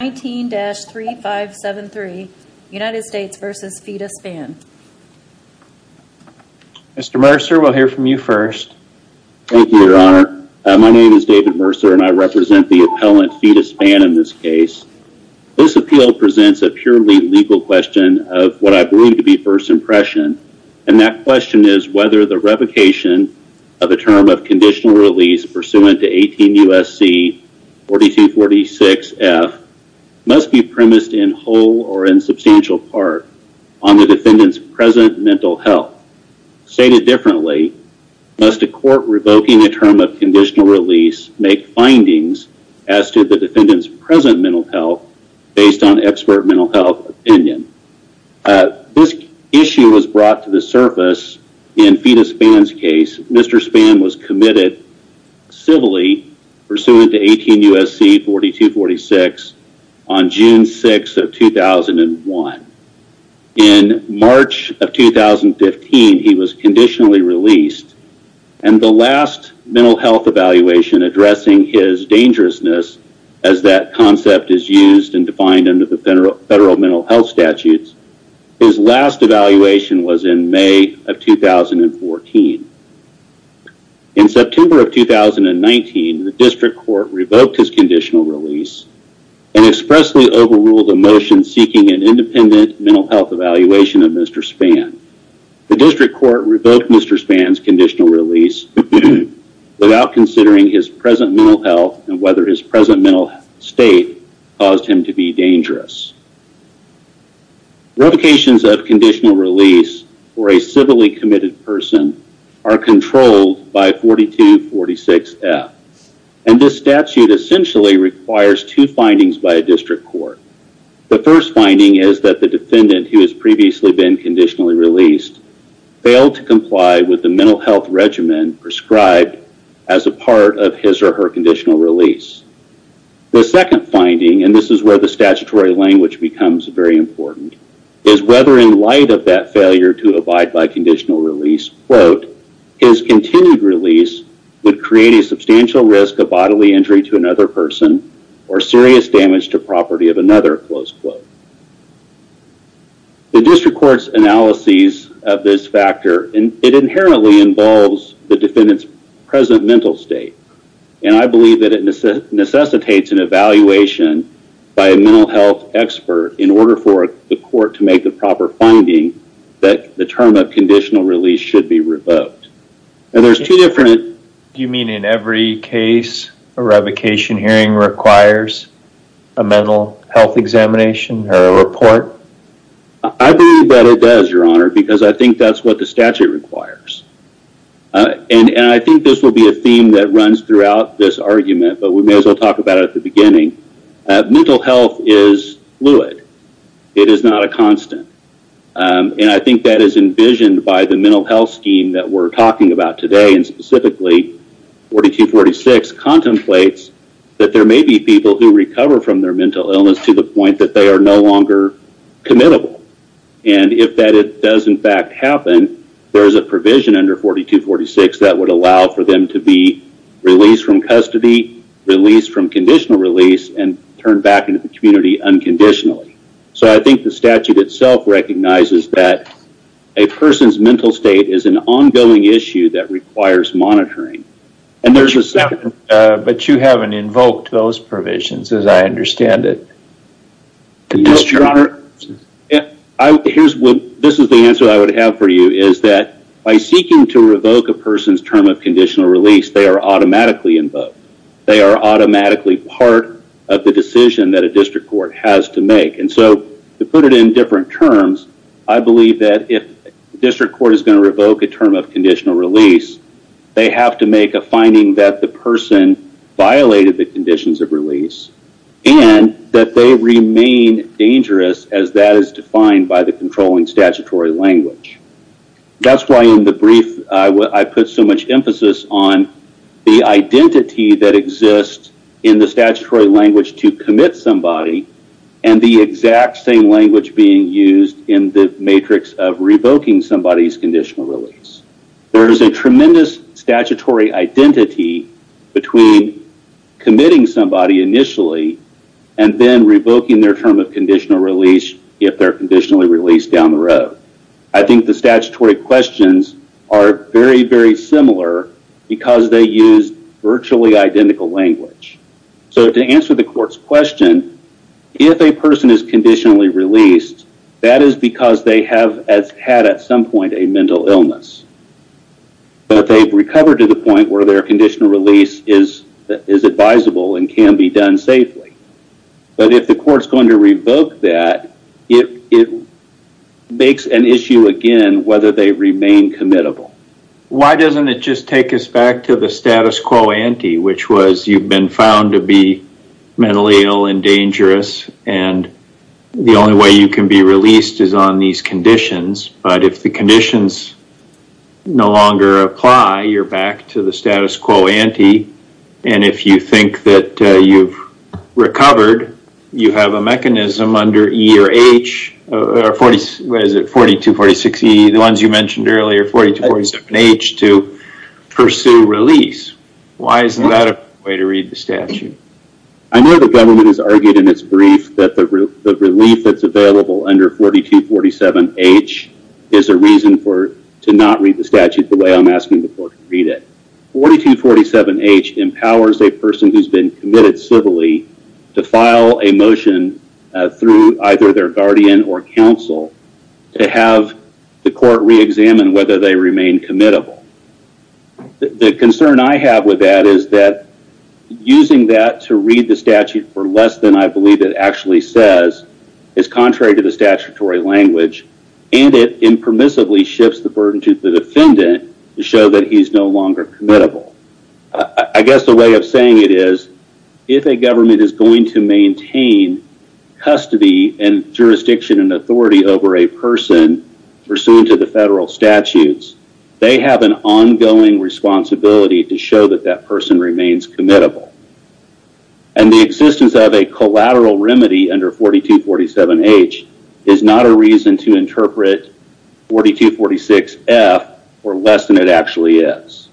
19-3573 United States v. Fita Spann Mr. Mercer, we'll hear from you first Thank you, your honor. My name is David Mercer and I represent the appellant Fita Spann in this case. This appeal presents a purely legal question of what I believe to be first impression and that question is whether the revocation of a term of conditional release pursuant to 18 U.S.C. 4246 F must be premised in whole or in substantial part on the defendant's present mental health. Stated differently, must a court revoking a term of conditional release make findings as to the defendant's present mental health based on expert mental health opinion? This issue was brought to surface in Fita Spann's case. Mr. Spann was committed civilly pursuant to 18 U.S.C. 4246 on June 6 of 2001. In March of 2015, he was conditionally released and the last mental health evaluation addressing his dangerousness as that concept is used and defined under the federal mental health statutes. His last evaluation was in May of 2014. In September of 2019, the district court revoked his conditional release and expressly overruled a motion seeking an independent mental health evaluation of Mr. Spann. The district court revoked Mr. Spann's conditional release without considering his present mental health and whether his present mental health state caused him to be dangerous. Revocations of conditional release for a civilly committed person are controlled by 4246 F. And this statute essentially requires two findings by a district court. The first finding is that the defendant who has previously been conditionally released failed to comply with the mental health regimen prescribed as a part of his or her conditional release. The second finding, and this is where the statutory language becomes very important, is whether in light of that failure to abide by conditional release, quote, his continued release would create a substantial risk of bodily injury to another person or serious damage to property of another, close quote. The district court's analyses of this factor, it inherently involves the defendant's present mental state. And I believe that it necessitates an evaluation by a mental health expert in order for the court to make the proper finding that the term of conditional release should be revoked. And there's two different... Do you mean in every case a revocation hearing requires a mental health examination or a report? I believe that it does, Your Honor, because I think that's what the statute requires. And I think this will be a theme that runs throughout this argument, but we may as well talk about it at the beginning. Mental health is fluid. It is not a constant. And I think that is envisioned by the mental health scheme that we're talking about today, and specifically 4246 contemplates that there may be people who recover from their mental illness to the point that they are no longer committable. And if that does in fact happen, there is a provision under 4246 that would allow for them to be released from custody, released from conditional release, and turned back into the community unconditionally. So I think the statute itself recognizes that a person's condition is an ongoing issue that requires monitoring. But you haven't invoked those provisions as I understand it. Yes, Your Honor. This is the answer I would have for you is that by seeking to revoke a person's term of conditional release, they are automatically invoked. They are automatically part of the decision that a district court has to make. And so to put it in different terms, I believe that if the district court is going to revoke a term of conditional release, they have to make a finding that the person violated the conditions of release and that they remain dangerous as that is defined by the controlling statutory language. That's why in the brief, I put so much emphasis on the identity that exists in the statutory language to commit somebody and the exact same language being used in the matrix of revoking somebody's conditional release. There is a tremendous statutory identity between committing somebody initially and then revoking their term of conditional release if they're conditionally released down the road. I think the statutory questions are very, very similar because they use virtually identical language. So to answer the court's question, if a person is conditionally released, that is because they have had at some point a mental illness. But they've recovered to the point where their conditional release is advisable and can be done safely. But if the court's going to revoke that, it makes an issue again whether they remain committable. Why doesn't it just take us back to the status quo ante, which was you've been found to be mentally ill and dangerous and the only way you can be released is on these conditions. But if the conditions no longer apply, you're back to the status quo ante. And if you think that you've recovered, you have a mechanism under 4246E, the ones you mentioned earlier, 4247H to pursue release. Why isn't that a way to read the statute? I know the government has argued in its brief that the relief that's available under 4247H is a reason to not read the statute the way I'm asking the court to read it. 4247H empowers a person who's been committed civilly to file a motion through either their guardian or counsel to have the court reexamine whether they remain committable. The concern I have with that is that using that to read the statute for less than I believe it actually says is contrary to the statutory language, and it impermissibly shifts the burden to the defendant to show that he's no longer committable. I guess the way of saying it is if a government is going to maintain custody and jurisdiction and authority over a person pursuant to the federal statutes, they have an ongoing responsibility to show that that person remains committable. And the existence of a collateral remedy under 4247H is not a reason to interpret 4246F for less than it actually is.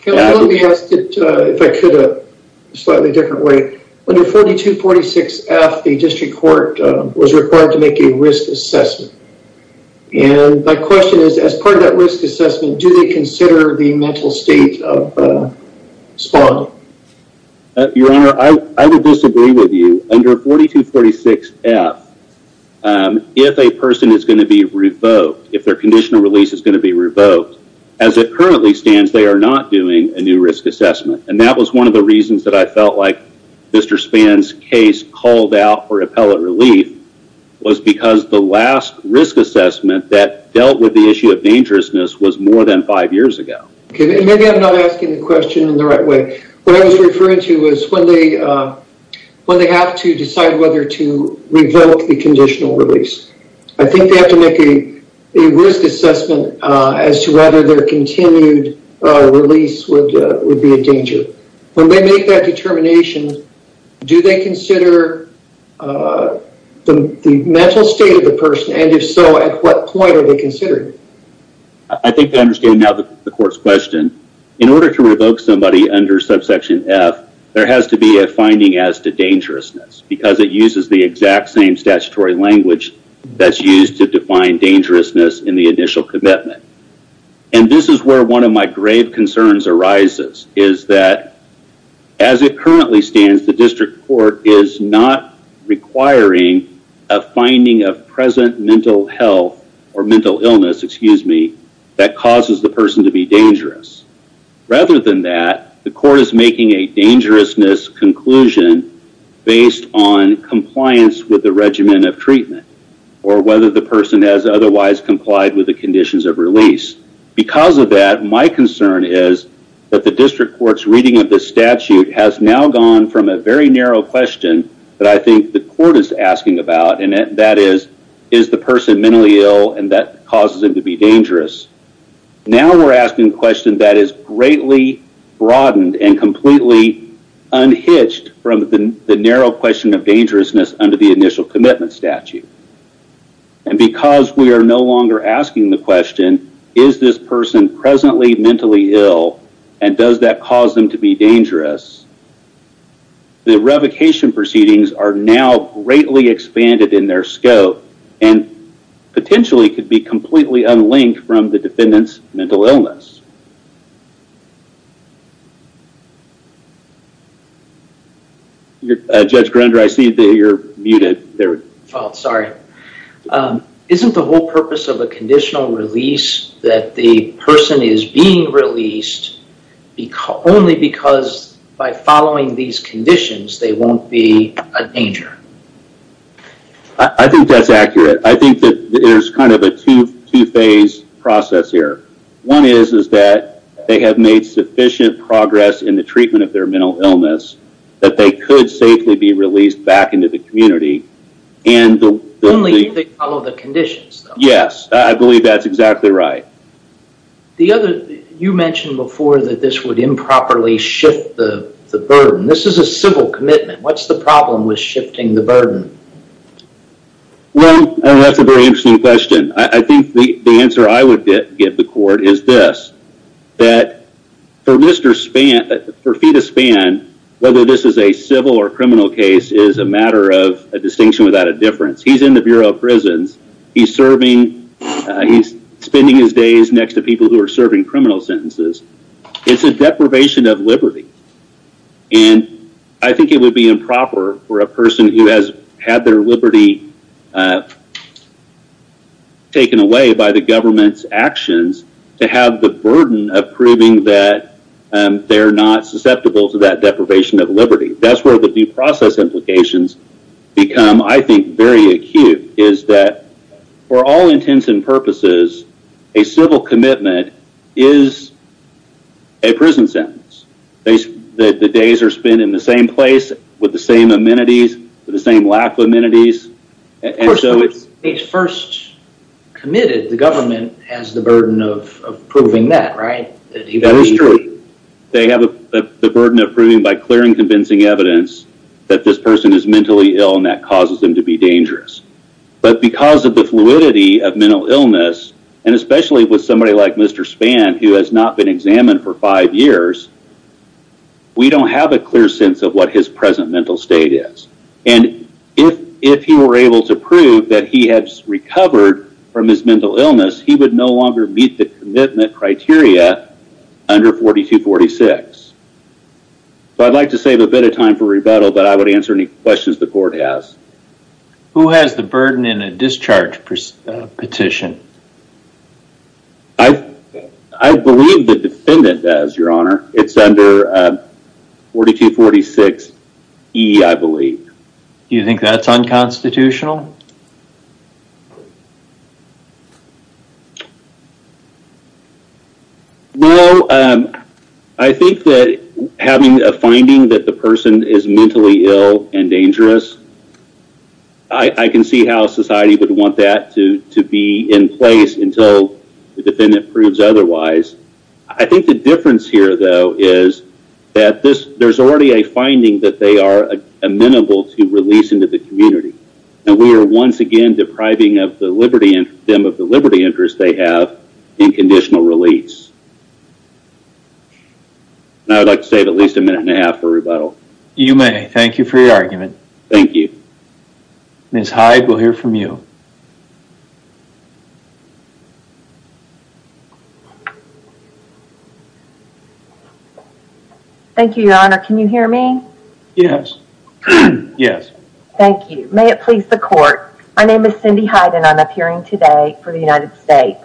Counsel, let me ask it if I could a slightly different way. Under 4246F, the district court was required to make a risk assessment. And my question is, as part of that risk assessment, do they consider the mental state of Spaulding? Your Honor, I would disagree with you. Under 4246F, if a person is going to be revoked, if their conditional release is going to be revoked, as it currently stands, they are not doing a new risk assessment. And that was one of the reasons that I felt like Mr. Spann's case called out for appellate relief was because the last risk assessment that dealt with the issue of dangerousness was more than five years ago. Okay, maybe I'm not asking the question in the right way. What I was referring to was when they have to decide whether to revoke the conditional release. I think they have to make a risk assessment as to whether their continued release would be a danger. When they make that determination, do they consider the mental state of the person? And if so, at what point are they considered? I think I understand now the court's question. In order to revoke somebody under subsection F, there has to be a finding as to dangerousness because it uses the exact same statutory language that's used to define dangerousness in the initial commitment. And this is where one of my grave concerns arises, is that as it currently stands, the district court is not requiring a finding of present mental health or mental illness, excuse me, that causes the person to be dangerous. Rather than that, the court is making a dangerousness conclusion based on compliance with the regimen of treatment or whether the person has otherwise complied with the conditions of release. Because of that, my concern is that the district court's reading of this statute has now gone from a very narrow question that I think the court is asking about, and that is, is the person mentally ill and that causes them to be dangerous? Now we're asking a question that is greatly broadened and completely unhitched from the narrow question of dangerousness under the initial commitment statute. And because we are no longer asking the question, is this person presently mentally ill and does that cause them to be dangerous? The revocation proceedings are now greatly expanded in their scope and potentially could be completely unlinked from the defendant's mental illness. Judge Grunder, I see that you're muted. Oh, sorry. Isn't the whole purpose of a conditional release that the person is being released only because by following these conditions, they won't be a danger? I think that's accurate. I think that there's a two-phase process here. One is that they have made sufficient progress in the treatment of their mental illness that they could safely be released back into the community. Only if they follow the conditions. Yes, I believe that's exactly right. You mentioned before that this would improperly shift the burden. This is a civil commitment. What's the problem with shifting the burden? Well, that's a very interesting question. I think the answer I would give the court is this, that for Mr. Spann, for Peter Spann, whether this is a civil or criminal case is a matter of a distinction without a difference. He's in the Bureau of Prisons. He's spending his days next to people who are serving criminal sentences. It's a deprivation of liberty. I think it would be improper for a person who has had their liberty taken away by the government's actions to have the burden of proving that they're not susceptible to that deprivation of liberty. That's where the due process implications become, I think, very acute is that for all intents and purposes, a civil commitment is a prison sentence. The days are spent in the same place with the same amenities, with the same lack of amenities. Of course, when it's first committed, the government has the burden of proving that. That is true. They have the burden of proving by clearing convincing evidence that this person is mentally ill and that causes them to be dangerous. Because of the fluidity of mental illness, and especially with somebody like Mr. Spann, who has not been examined for five years, we don't have a clear sense of what his present is. He would no longer meet the commitment criteria under 4246. I'd like to save a bit of time for rebuttal, but I would answer any questions the court has. Who has the burden in a discharge petition? I believe the defendant does, Your Honor. It's under 4246E, I believe. Do you think that's unconstitutional? Well, I think that having a finding that the person is mentally ill and dangerous, I can see how society would want that to be in place until the defendant proves otherwise. I think the difference here, though, is that there's already a finding that they are amenable to release into the community, and we are once again depriving them of the liberty interest they have in conditional release. I would like to save at least a minute and a half for rebuttal. You may. Thank you for your argument. Thank you. Ms. Hyde, we'll hear from you. Thank you, Your Honor. Can you hear me? Yes. Thank you. May it please the court, my name is Cindy Hyde, and I'm appearing today for the United States.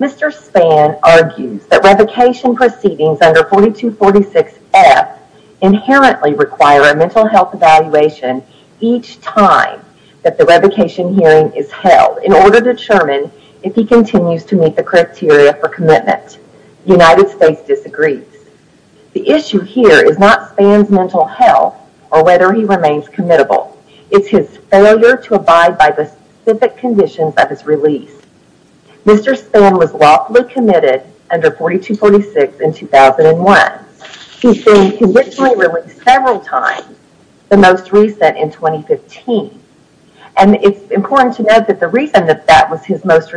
Mr. Spann argues that revocation proceedings under 4246F inherently require a mental health evaluation each time that the revocation hearing is held in order to determine if he continues to meet the criteria for commitment. The United States disagrees. The issue here is not Spann's mental health or whether he remains committable. It's his failure to abide by the specific conditions of his release. Mr. Spann was lawfully committed under 4246 in 2001. He's been conditionally released several times, the most recent in 2015, and it's important to note that the reason that that was his most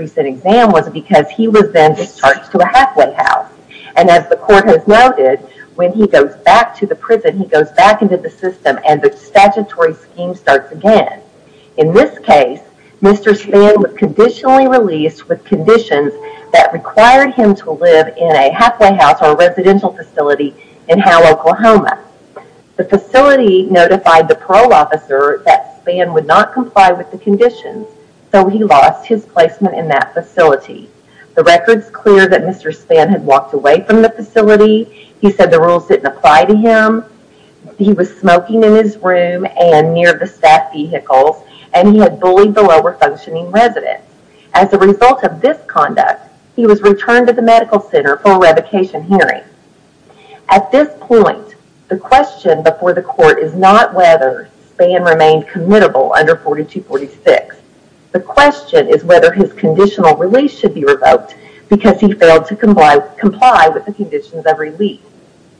when he goes back to the prison, he goes back into the system, and the statutory scheme starts again. In this case, Mr. Spann was conditionally released with conditions that required him to live in a halfway house or a residential facility in Howe, Oklahoma. The facility notified the parole officer that Spann would not comply with the conditions, so he lost his placement in that facility. He said the rules didn't apply to him. He was smoking in his room and near the staff vehicles, and he had bullied the lower functioning residents. As a result of this conduct, he was returned to the medical center for a revocation hearing. At this point, the question before the court is not whether Spann remained committable under 4246. The question is whether his conditional release should be revoked because he failed to comply with the conditions of release.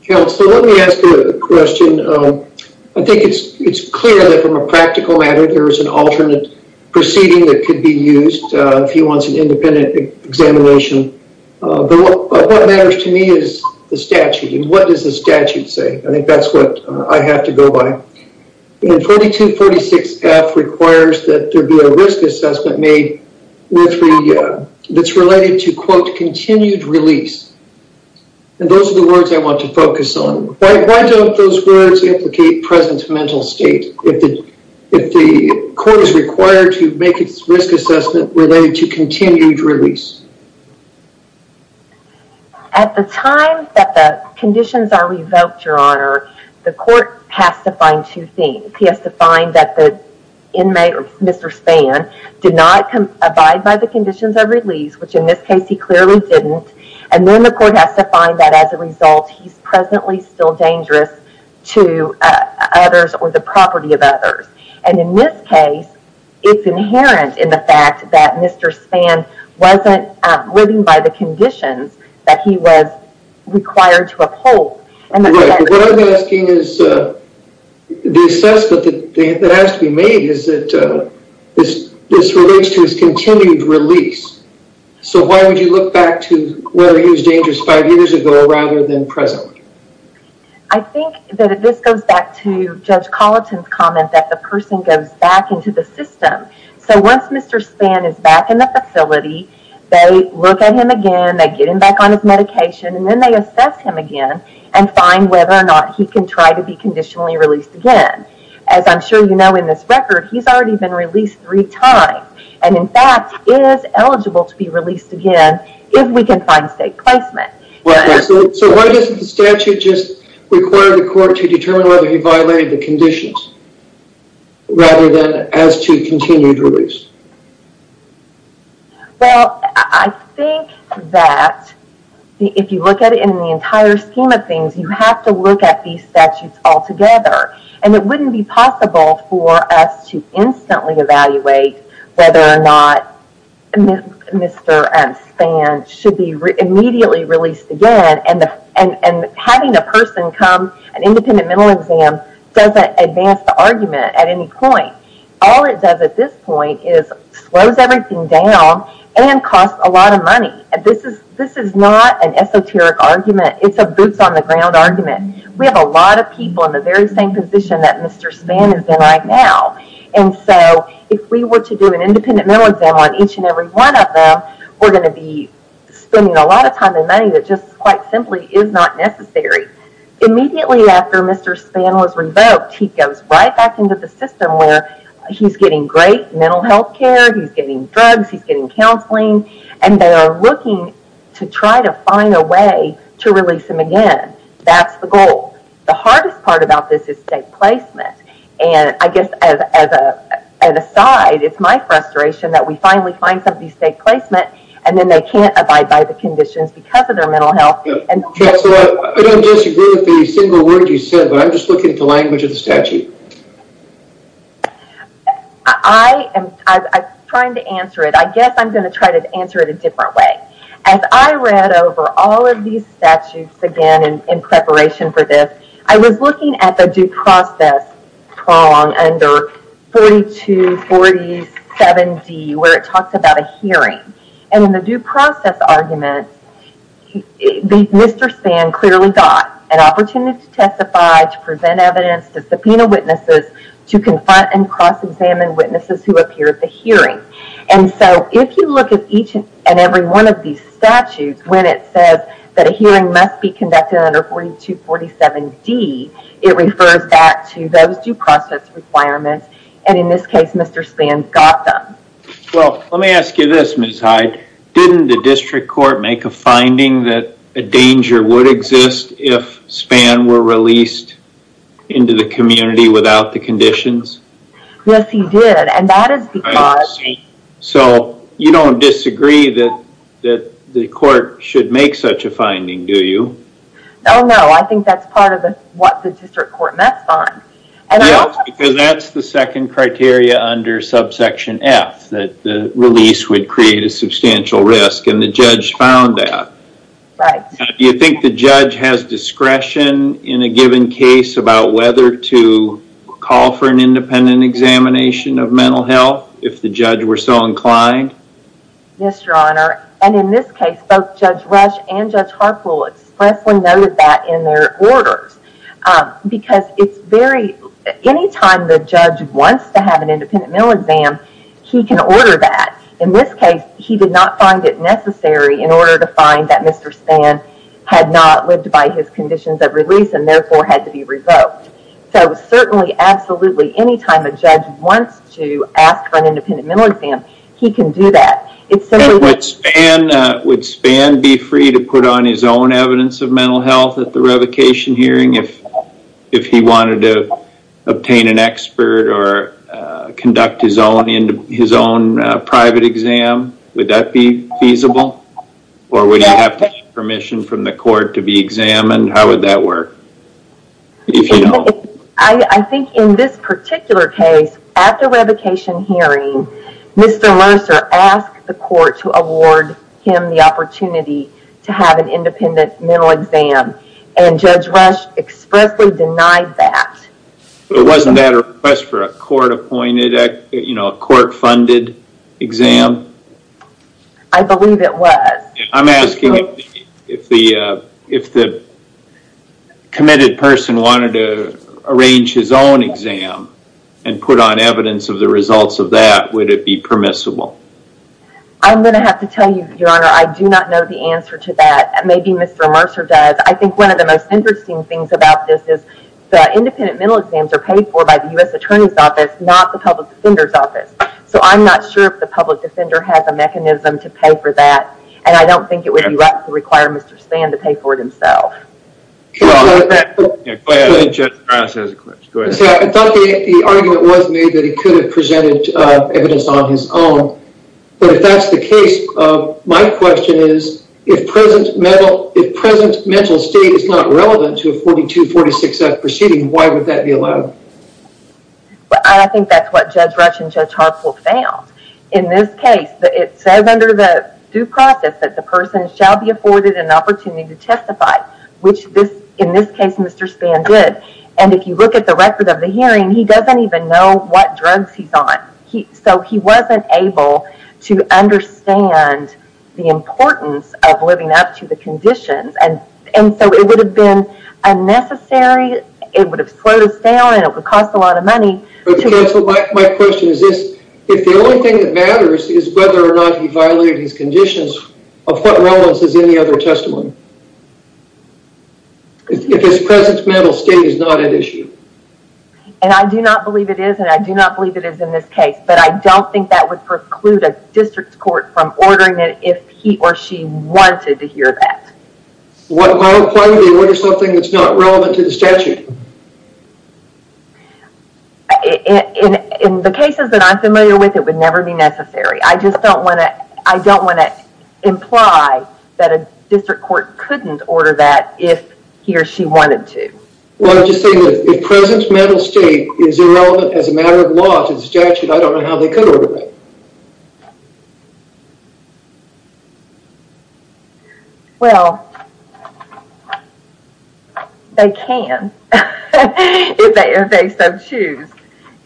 Counselor, let me ask you a question. I think it's clear that from a practical matter, there is an alternate proceeding that could be used if he wants an independent examination, but what matters to me is the statute, and what does the statute say? I think that's what I have to go by. 4246F requires that there be a risk assessment made that's related to, quote, continued release, and those are the words I want to focus on. Why don't those words implicate present mental state if the court is required to make its risk assessment related to continued release? At the time that the conditions are revoked, your honor, the court has to find two things. He has to find that the inmate, Mr. Spann, did not abide by the conditions of release, which in this case, he clearly didn't, and then the court has to find that as a result, he's presently still dangerous to others or the property of others, and in this case, it's inherent in the fact that Mr. Spann wasn't living by the conditions that he was required to uphold. Right, but what I'm asking is the assessment that has to be made is that this relates to his continued release, so why would you look back to whether he was dangerous five years ago rather than presently? I think that this goes back to Judge Colleton's comment that the person goes back into the system, so once Mr. Spann is back in the facility, they look at him again, they get him back on his medication, and then they assess him again and find whether or not he can try to be conditionally released again. As I'm sure you know in this record, he's already been released three times, and in fact, is eligible to be released again if we can find state placement. So why doesn't the statute just require the court to determine whether he violated the conditions rather than as to continued release? Well, I think that if you look at it in the entire scheme of things, you have to look at these statutes altogether, and it wouldn't be possible for us to instantly evaluate whether or not Mr. Spann should be immediately released again, and having a person come, an independent mental exam doesn't advance the argument at any point. All it does at this point is slows everything down and costs a lot of money. This is not an esoteric argument. It's a boots on the ground argument. We have a lot of people in the very same position that Mr. Spann is in right now, and so if we were to do an independent mental exam on each and every one of them, we're going to be spending a lot of time and money that just quite simply is not necessary. Immediately after Mr. Spann was revoked, he goes right back into the system where he's getting great mental health care, he's getting drugs, he's getting counseling, and they are looking to try to find a way to release him again. That's the goal. The hardest part about this is state placement, and I guess as an aside, it's my frustration that we finally find somebody's state placement, and then they can't abide by the conditions because of their mental health. I don't disagree with a single word you said, but I'm just looking at the language of the statute. I'm trying to answer it. I guess I'm going to try to answer it a different way. As I read over all of these statutes again in preparation for this, I was looking at the due process prong under 4247D where it talks about a hearing, and in the due process, Mr. Spann clearly got an opportunity to testify, to present evidence, to subpoena witnesses, to confront and cross-examine witnesses who appear at the hearing. If you look at each and every one of these statutes when it says that a hearing must be conducted under 4247D, it refers back to those due process requirements, and in this case, Mr. Spann got them. Well, let me ask you this, Ms. Hyde. Didn't the district court make a finding that a danger would exist if Spann were released into the community without the conditions? Yes, he did, and that is because... So you don't disagree that the court should make such a finding, do you? No, no. I think that's part of what the district court met on. Because that's the second criteria under subsection F, that the release would create a substantial risk, and the judge found that. Do you think the judge has discretion in a given case about whether to call for an independent examination of mental health if the judge were so inclined? Yes, your honor, and in this case, both Judge Rush and Judge Harpool expressly noted that in their orders, because it's very... Anytime the judge wants to have an independent mental exam, he can order that. In this case, he did not find it necessary in order to find that Mr. Spann had not lived by his conditions of release and therefore had to be revoked. So certainly, absolutely, anytime a judge wants to ask for an independent mental exam, he can do that. Would Spann be free to put on his own evidence of mental health at the revocation hearing if he wanted to obtain an expert or conduct his own private exam? Would that be feasible? Or would he have to get permission from the court to be examined? How would that work? If you don't... I think in this particular case, after revocation hearing, Mr. Lurser asked the court to award him the opportunity to have an independent mental exam, and Judge Rush expressly denied that. It wasn't at a request for a court-funded exam? I believe it was. I'm asking if the committed person wanted to arrange his own exam and put on evidence of the results of that, would it be permissible? I'm going to have to tell you, Your Honor, I do not know the answer to that. Maybe Mr. Lurser does. I think one of the most interesting things about this is the independent mental exams are paid for by the U.S. Attorney's Office, not the Public Defender's Office. So I'm not sure if the public defender has a mechanism to pay for that, and I don't think it would be right to require Mr. Spann to pay for it himself. I thought the argument was made that he could have presented evidence on his own, but if that's the case, my question is, if present mental state is not relevant to a 42-46F proceeding, why would that be allowed? I think that's what Judge Rush and the jury said, that the person shall be afforded an opportunity to testify, which in this case Mr. Spann did. And if you look at the record of the hearing, he doesn't even know what drugs he's on. So he wasn't able to understand the importance of living up to the conditions, and so it would have been unnecessary, it would have slowed us down, and it would have cost a lot of money. But counsel, my question is this, if the only thing that matters is whether or not he violated his conditions, of what relevance is any other testimony? If his present mental state is not at issue. And I do not believe it is, and I do not believe it is in this case, but I don't think that would preclude a district court from ordering it if he or she wanted to hear that. Why would they order something that's not relevant to the statute? In the cases that I'm familiar with, it would never be necessary. I just don't want to imply that a district court couldn't order that if he or she wanted to. Well, I'm just saying that if present mental state is irrelevant as a matter of law to the statute, I don't know how they could if they so choose.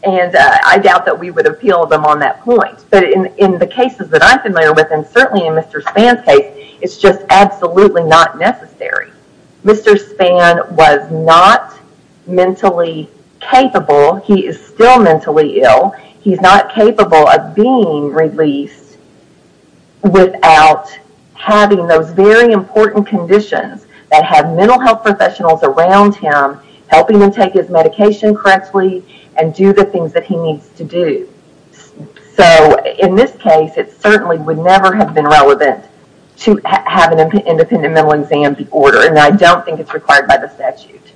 And I doubt that we would appeal them on that point. But in the cases that I'm familiar with, and certainly in Mr. Spann's case, it's just absolutely not necessary. Mr. Spann was not mentally capable, he is still mentally ill, he's not capable of being released without having those very important conditions that have mental health professionals around him helping him take his medication correctly and do the things that he needs to do. So in this case, it certainly would never have been relevant to have an independent mental exam be ordered, and I don't think it's required by the statute.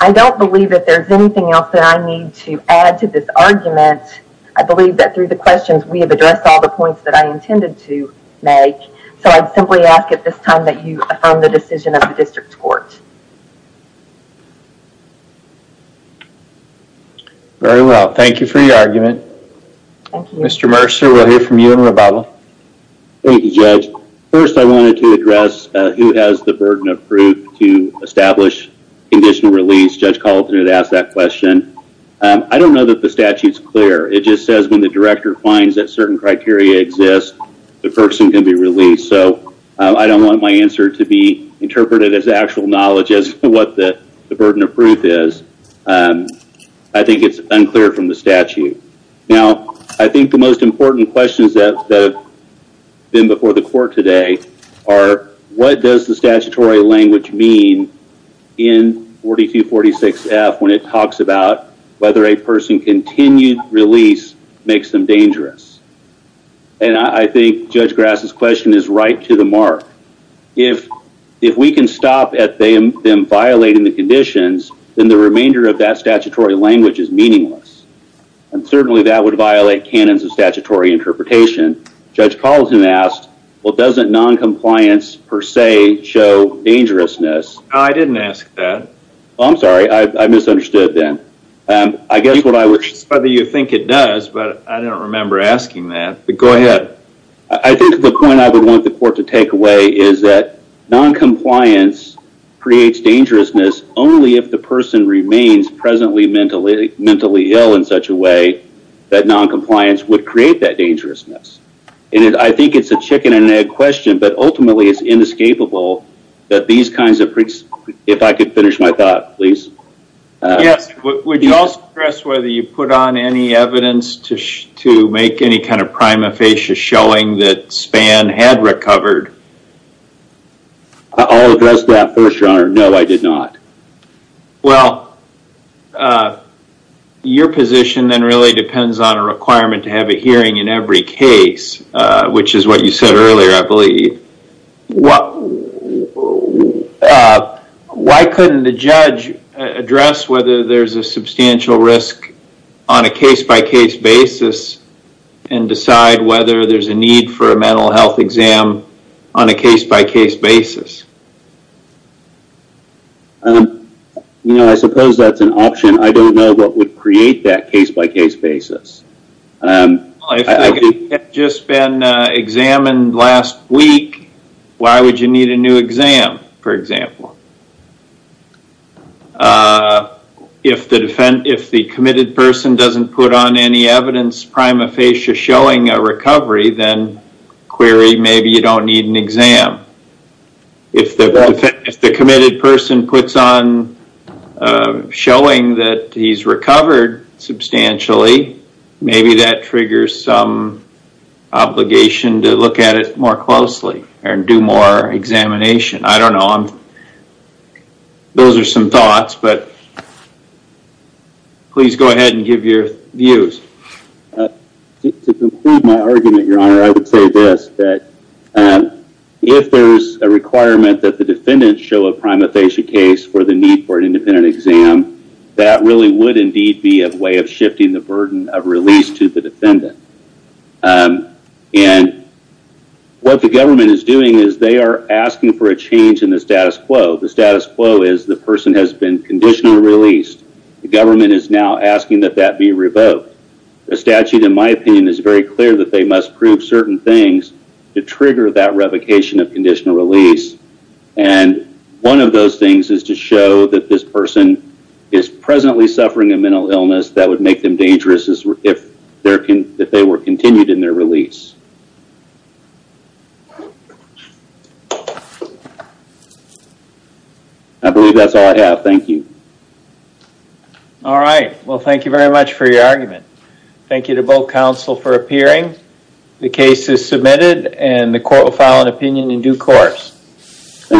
I don't believe that there's anything else that I need to add to this argument. I believe that the questions, we have addressed all the points that I intended to make, so I'd simply ask at this time that you affirm the decision of the district court. Very well, thank you for your argument. Mr. Mercer, we'll hear from you in rebuttal. Thank you, Judge. First, I wanted to address who has the burden of proof to establish conditional release. Judge Colton had asked that question. I don't know that the statute's clear. It just says when the director finds that certain criteria exist, the person can be released, so I don't want my answer to be interpreted as actual knowledge as to what the burden of proof is. I think it's unclear from the statute. Now, I think the most important questions that have been before the court today are what does the statutory language mean in 4246F when it talks about whether a person continued release makes them dangerous? I think Judge Grass's question is right to the mark. If we can stop at them violating the conditions, then the remainder of that statutory language is meaningless, and certainly that would violate canons of statutory interpretation. Judge Colton asked, well, doesn't noncompliance per se show dangerousness? I didn't ask that. I'm sorry. I misunderstood then. I guess what I was... Whether you think it does, but I don't remember asking that. Go ahead. I think the point I would want the court to take away is that noncompliance creates dangerousness only if the person remains presently mentally ill in such a way that noncompliance would create that dangerousness. I think it's a chicken and egg question, but ultimately it's inescapable that these kinds of... If I could finish my thought, please. Yes. Would you also address whether you put on any evidence to make any kind of prima facie showing that Spann had recovered? I'll address that first, Your Honor. No, I did not. Your position then really depends on a requirement to have a hearing in every case, which is what you said earlier, I believe. Why couldn't the judge address whether there's a substantial risk on a case-by-case basis and decide whether there's a need for a mental health exam on a case-by-case basis? I suppose that's an option. I don't know what would create that case-by-case basis. If it had just been examined last week, why would you need a new exam, for example? If the committed person doesn't put on any evidence prima facie showing a recovery, then query, maybe you don't need an exam. If the committed person puts on showing that he's recovered substantially, maybe that triggers some obligation to look at it more closely and do more examination. I don't know. Those are some thoughts, but please go ahead and give your views. To conclude my argument, Your Honor, I would say this, that if there's a that really would indeed be a way of shifting the burden of release to the defendant. What the government is doing is they are asking for a change in the status quo. The status quo is the person has been conditionally released. The government is now asking that that be revoked. The statute, in my opinion, is very clear that they must prove certain things to trigger that is presently suffering a mental illness that would make them dangerous if they were continued in their release. I believe that's all I have. Thank you. All right. Well, thank you very much for your argument. Thank you to both counsel for appearing. The case is submitted and the court will file an opinion in due course.